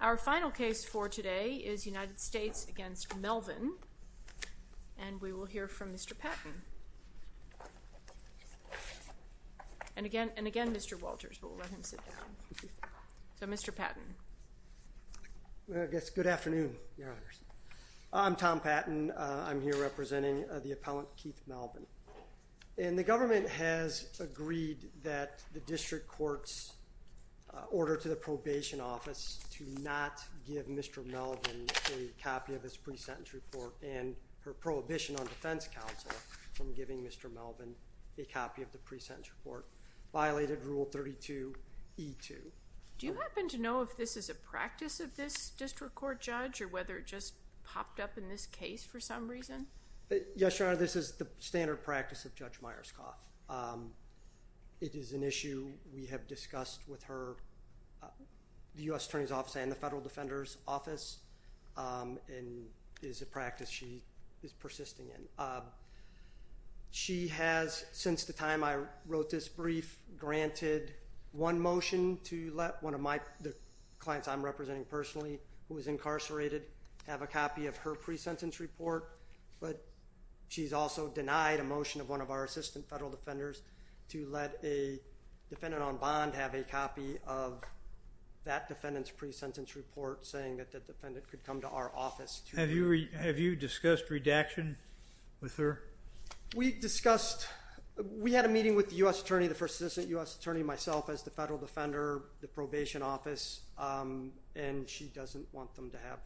Our final case for today is United States v. Melvin and we will hear from Mr. Patton and again and again Mr. Walters but we'll let him sit down. So Mr. Patton. I guess good afternoon. I'm Tom Patton. I'm here representing the appellant Keith Melvin and the government has agreed that the district court's order to the probation office to not give Mr. Melvin a copy of his pre-sentence report and her prohibition on defense counsel from giving Mr. Melvin a copy of the pre-sentence report violated rule 32e2. Do you happen to know if this is a practice of this district court judge or whether it just popped up in this case for some reason? Yes your honor this is the standard practice of we have discussed with her the U.S. Attorney's Office and the Federal Defender's Office and is a practice she is persisting in. She has since the time I wrote this brief granted one motion to let one of my the clients I'm representing personally who was incarcerated have a copy of her pre-sentence report but she's also denied a motion of one of our assistant federal defenders to let a defendant on bond have a copy of that defendant's pre-sentence report saying that the defendant could come to our office. Have you have you discussed redaction with her? We discussed we had a meeting with the U.S. Attorney the first assistant U.S. Attorney myself as the federal defender the probation office and she doesn't want them to have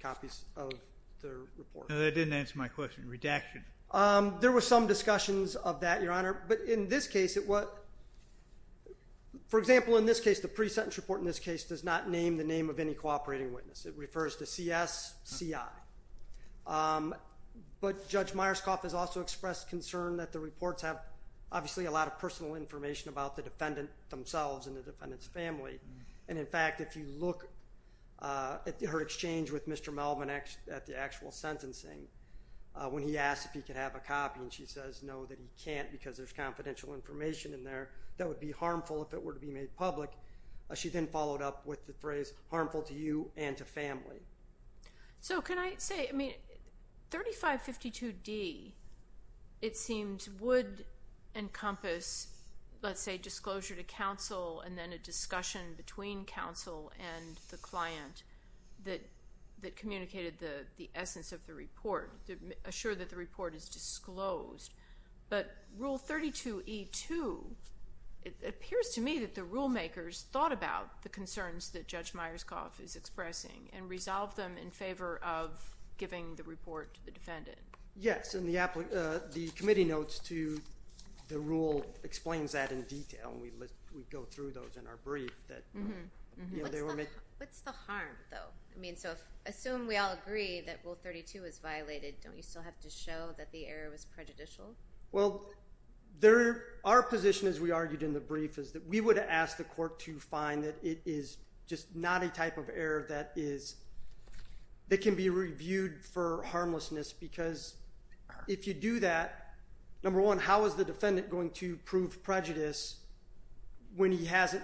copies of the report. That didn't answer my question redaction. There were some discussions of that your honor but in this case it what for example in this case the pre-sentence report in this case does not name the name of any cooperating witness it refers to CSCI but Judge Myerscough has also expressed concern that the reports have obviously a lot of personal information about the defendant themselves and the defendant's family and in fact if you look at her exchange with Mr. Melvin X at the actual sentencing when he asked if he could have a copy and she says no that he can't because there's confidential information in there that would be harmful if it were to be made public. She then followed up with the phrase harmful to you and to family. So can I say I mean 3552 D it seems would encompass let's say disclosure to counsel and then a discussion between counsel and the client that that the report is disclosed but rule 32 e2 it appears to me that the rulemakers thought about the concerns that Judge Myerscough is expressing and resolve them in favor of giving the report to the defendant. Yes in the app the committee notes to the rule explains that in detail we go through those in our brief. What's the harm though I mean so assume we all agree that rule 32 is show that the error was prejudicial. Well there our position as we argued in the brief is that we would ask the court to find that it is just not a type of error that is that can be reviewed for harmlessness because if you do that number one how is the defendant going to prove prejudice when he hasn't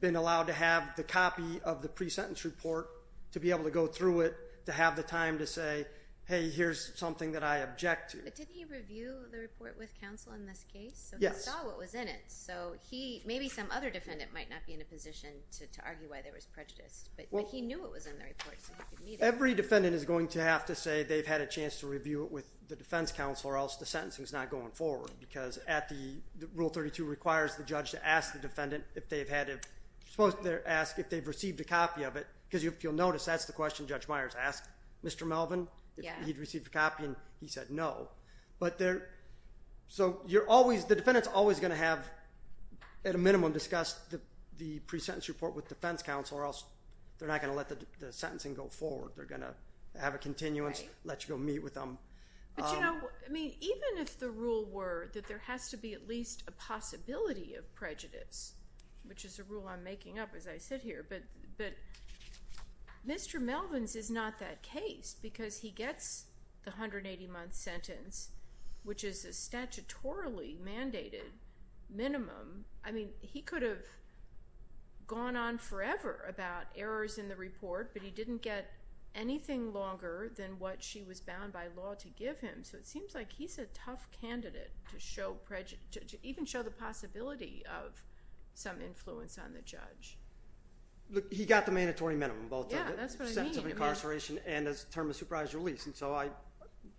been allowed to have the copy of the pre-sentence report to be able to go through it to have the time to say hey here's something that I object to. But didn't he review the report with counsel in this case? Yes. So he saw what was in it so he maybe some other defendant might not be in a position to argue why there was prejudice but he knew it was in the report. Every defendant is going to have to say they've had a chance to review it with the defense counsel or else the sentencing is not going forward because at the rule 32 requires the judge to ask the defendant if they've had it supposed to ask if they've received a copy of it because if you'll notice that's the question Judge Myers asked Mr. Melvin yeah he'd received a copy and he said no but there so you're always the defendants always going to have at a minimum discussed the pre-sentence report with defense counsel or else they're not going to let the sentencing go forward they're going to have a continuance let you go meet with them. I mean even if the rule were that there has to be at least a possibility of Mr. Melvin's is not that case because he gets the 180 month sentence which is a statutorily mandated minimum I mean he could have gone on forever about errors in the report but he didn't get anything longer than what she was bound by law to give him so it seems like he's a tough candidate to show prejudice to even show the possibility of some influence on the judge he got the mandatory minimum both incarceration and as a term of supervised release and so I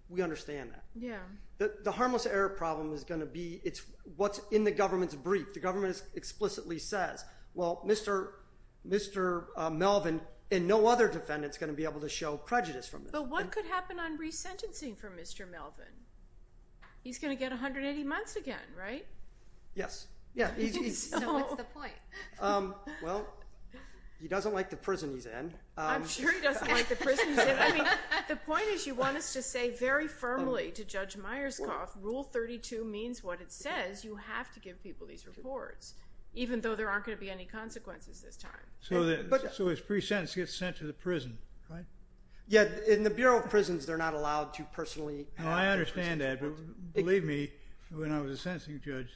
we understand that yeah the harmless error problem is going to be it's what's in the government's brief the government explicitly says well mr. mr. Melvin and no other defendants going to be able to show prejudice from but what could happen on resentencing for mr. Melvin he's going to get 180 months again right yes yeah well he doesn't like the prison he's in the point is you want us to say very firmly to judge Myerscough rule 32 means what it says you have to give people these reports even though there aren't going to be any consequences this time so that but so his pre-sentence gets sent to the prison right yet in the Bureau of Prisons they're not allowed to personally I understand that believe me when I was a sentencing judge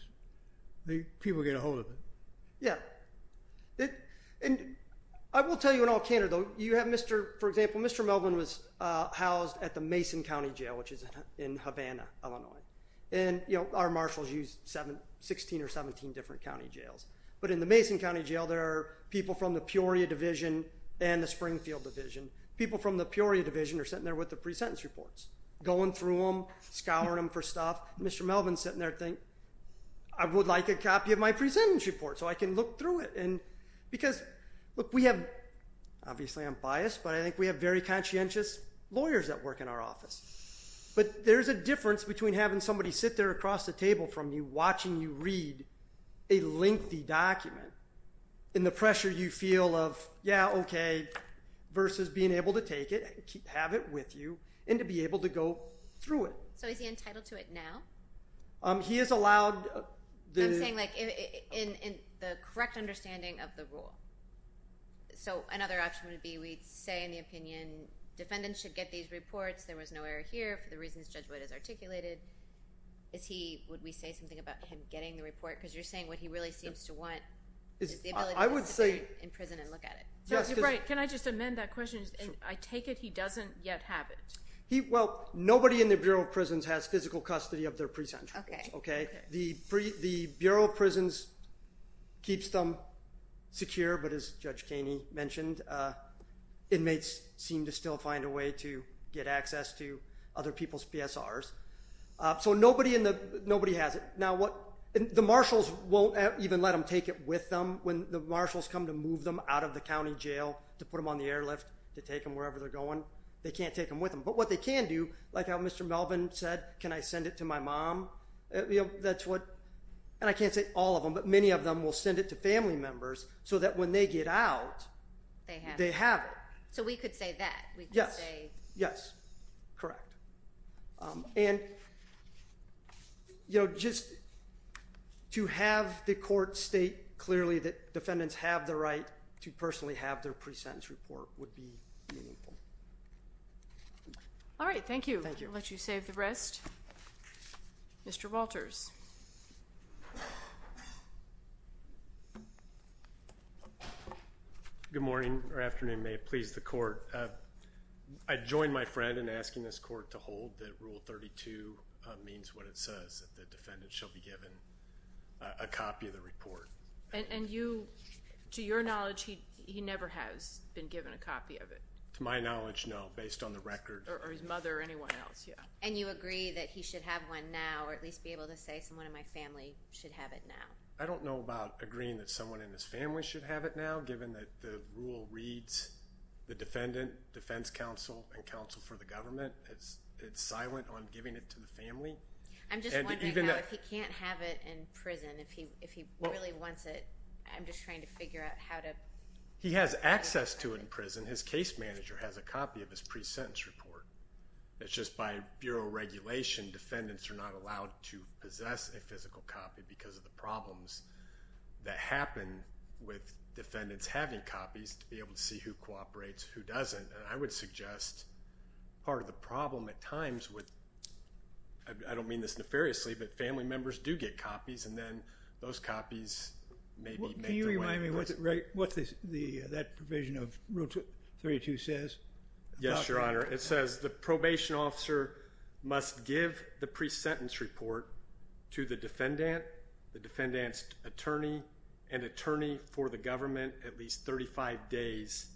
the people get a hold of it yeah it and I will tell you in all candor though you have mr. for example mr. Melvin was housed at the Mason County Jail which is in Havana Illinois and you know our marshals use 716 or 17 different county jails but in the Mason County Jail there are people from the Peoria Division and the Springfield Division people from the Peoria Division are sitting there with the pre-sentence reports going through them scouring them for stuff mr. Melvin sitting there think I would like a copy of my pre-sentence report so I can look through it and because look we have obviously I'm biased but I think we have very conscientious lawyers that work in our office but there's a difference between having somebody sit there across the table from you watching you read a lengthy document in the pressure you feel of yeah okay versus being able to keep have it with you and to be able to go through it so is he entitled to it now he is allowed I'm saying like in the correct understanding of the rule so another option would be we'd say in the opinion defendants should get these reports there was no error here for the reasons judgment is articulated is he would we say something about him getting the report because you're saying what he really seems to want I would say in prison and look at it yes you're right can I just amend that question and I take it he doesn't yet have it he well nobody in the Bureau of Prisons has physical custody of their pre-sentence okay the free the Bureau of Prisons keeps them secure but as Judge Kaney mentioned inmates seem to still find a way to get access to other people's PSRs so nobody in the nobody has it now what the marshals won't even let him take it with them when the marshals come to move them out of the county jail to put them on the airlift to take them wherever they're going they can't take them with them but what they can do like how mr. Melvin said can I send it to my mom that's what and I can't say all of them but many of them will send it to family members so that when they get out they have they have it so we could say yes yes correct and you know just to have the court state clearly that defendants have the right to personally have their pre-sentence report would be all right thank you thank you let you save the rest mr. Walters good morning or afternoon may it please the court I joined my friend and asking this court to hold that rule 32 means what it says the defendant shall be given a copy of the report and you to your knowledge he he never has been given a copy of it to my knowledge no based on the record or his mother or anyone else yeah and you agree that he should have one now or at least be able to say someone in my family should have it now I don't know about agreeing that someone in this family should have it now given that the rule reads the defendant defense counsel and counsel for the government it's it's silent on giving it to the family I'm just even though if he can't have it in prison if he if he really wants it I'm just trying to figure out how to he has access to it in prison his case manager has a copy of his pre-sentence report that's just by regulation defendants are not allowed to possess a physical copy because of the problems that happen with defendants having copies to be able to see who cooperates who doesn't and I would suggest part of the problem at times with I don't mean this nefariously but family members do get copies and then those copies maybe you remind me what's it right what's this the that provision of rule 232 says yes your honor it says the probation officer must give the pre-sentence report to the defendant the defendants attorney and attorney for the government at least 35 days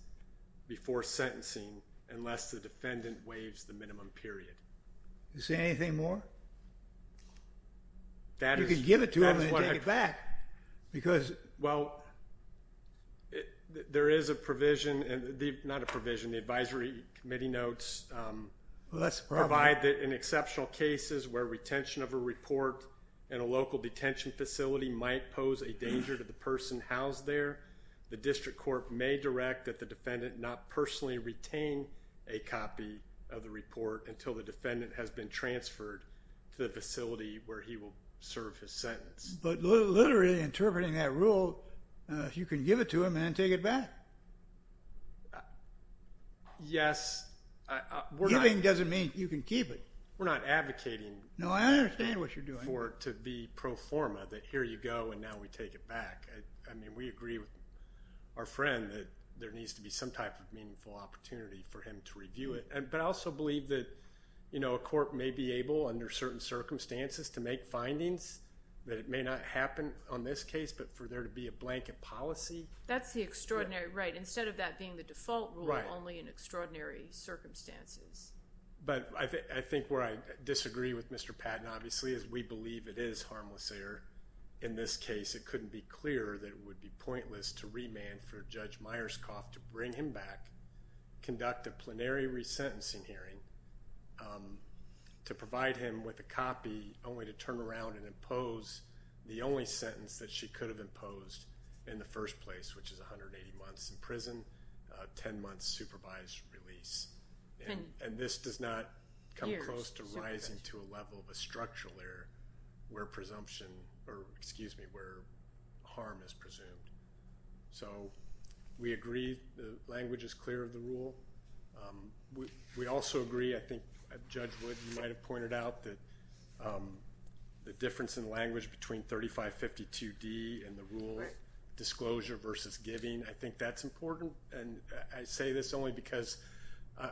before sentencing unless the defendant waives the minimum period you say anything more that is you give it to him and take it because well there is a provision and the not a provision the Advisory Committee notes let's provide that in exceptional cases where retention of a report in a local detention facility might pose a danger to the person housed there the district court may direct that the defendant not personally retain a copy of the report until the defendant has been transferred to the facility where he will serve his sentence but literally interpreting that rule you can give it to him and take it back yes we're doing doesn't mean you can keep it we're not advocating no I understand what you're doing or to be pro forma that here you go and now we take it back I mean we agree with our friend that there needs to be some type of meaningful opportunity for him to review it and but I also believe that you know a court may be able under certain circumstances to make findings that it may not happen on this case but for there to be a blanket policy that's the extraordinary right instead of that being the default right only in extraordinary circumstances but I think where I disagree with mr. Patton obviously as we believe it is harmless error in this case it couldn't be clear that it would be pointless to remand for judge Myers cough to bring him back conduct a plenary resentencing hearing to provide him with a copy only to turn around and impose the only sentence that she could have imposed in the first place which is 180 months in prison 10 months supervised release and this does not come close to rising to a level of a structural error where presumption or excuse me where harm is presumed so we also agree I think judge would you might have pointed out that the difference in language between 3552 D and the rule disclosure versus giving I think that's important and I say this only because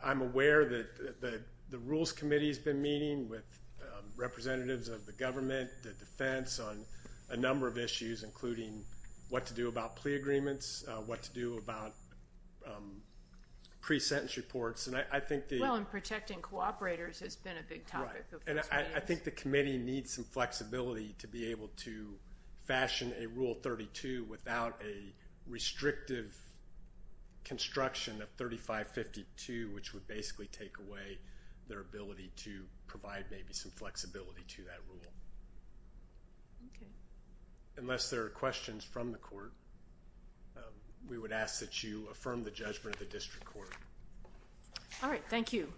I'm aware that the Rules Committee has been meeting with representatives of the government the defense on a number of issues including what to do about plea agreements what to do about pre-sentence reports and I think well I'm protecting cooperators has been a big time and I think the committee needs some flexibility to be able to fashion a rule 32 without a restrictive construction of 3552 which would basically take away their ability to provide maybe some flexibility to unless there are questions from the court we would ask that you affirm the judgment the district court all right thank you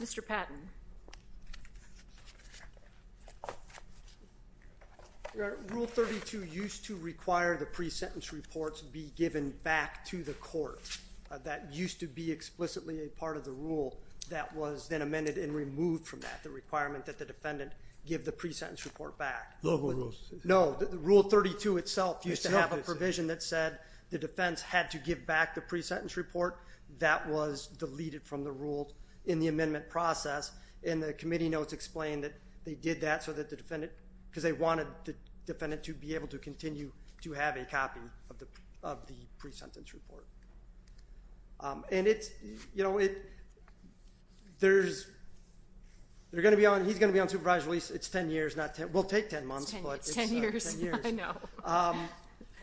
mr. Patton rule 32 used to require the pre-sentence reports be given back to the court that used to be explicitly a part of the rule that was then amended and removed from that the defendant give the pre-sentence report back no rules no the rule 32 itself used to have a provision that said the defense had to give back the pre-sentence report that was deleted from the rules in the amendment process in the committee notes explained that they did that so that the defendant because they wanted the defendant to be able to continue to have a copy of the of the pre-sentence report and it's you know it there's they're gonna be on he's gonna be on supervised release it's 10 years not 10 we'll take 10 months and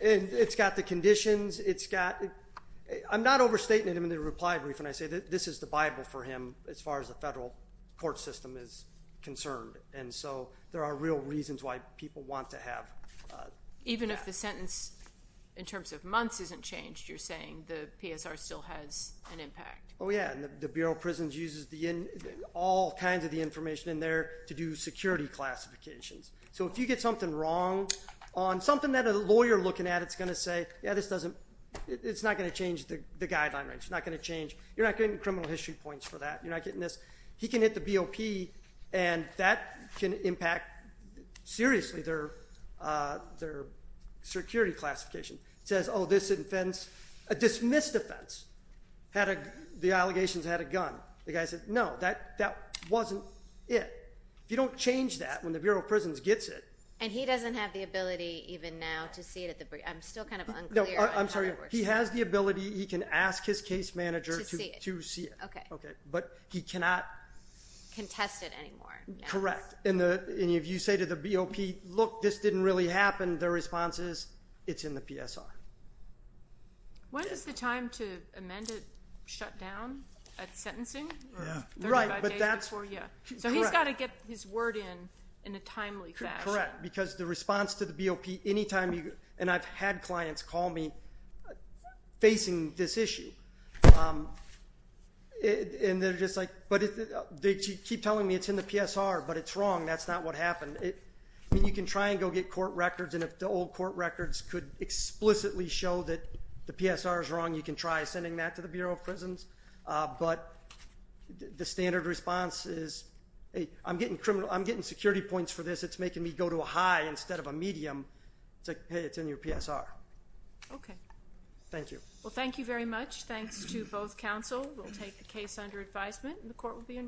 it's got the conditions it's got I'm not overstatement in the reply brief and I say that this is the Bible for him as far as the federal court system is concerned and so there are real reasons why people want to have even if the sentence in terms of months isn't changed you're saying the PSR still has an impact oh yeah the Bureau of Prisons uses the in all kinds of the information there to do security classifications so if you get something wrong on something that a lawyer looking at it's gonna say yeah this doesn't it's not going to change the guideline range not going to change you're not getting criminal history points for that you're not getting this he can hit the BOP and that can impact seriously their their security classification says oh this offense a dismissed offense had a the allegations had a gun the guy said no that that wasn't it you don't change that when the Bureau of Prisons gets it and he doesn't have the ability even now to see it at the break I'm still kind of I'm sorry he has the ability he can ask his case manager to see it okay okay but he cannot contest it anymore correct in the any of you say to the BOP look this didn't really happen their responses it's in the PSR what is the time to get his word in in a timely correct because the response to the BOP anytime you and I've had clients call me facing this issue and they're just like but if they keep telling me it's in the PSR but it's wrong that's not what happened it I mean you can try and go get court records and if the old court records could explicitly show that the PSR is wrong you can try sending that to the response is a I'm getting criminal I'm getting security points for this it's making me go to a high instead of a medium it's like hey it's in your PSR okay thank you well thank you very much thanks to both counsel we'll take the case under advisement and the court will be in recess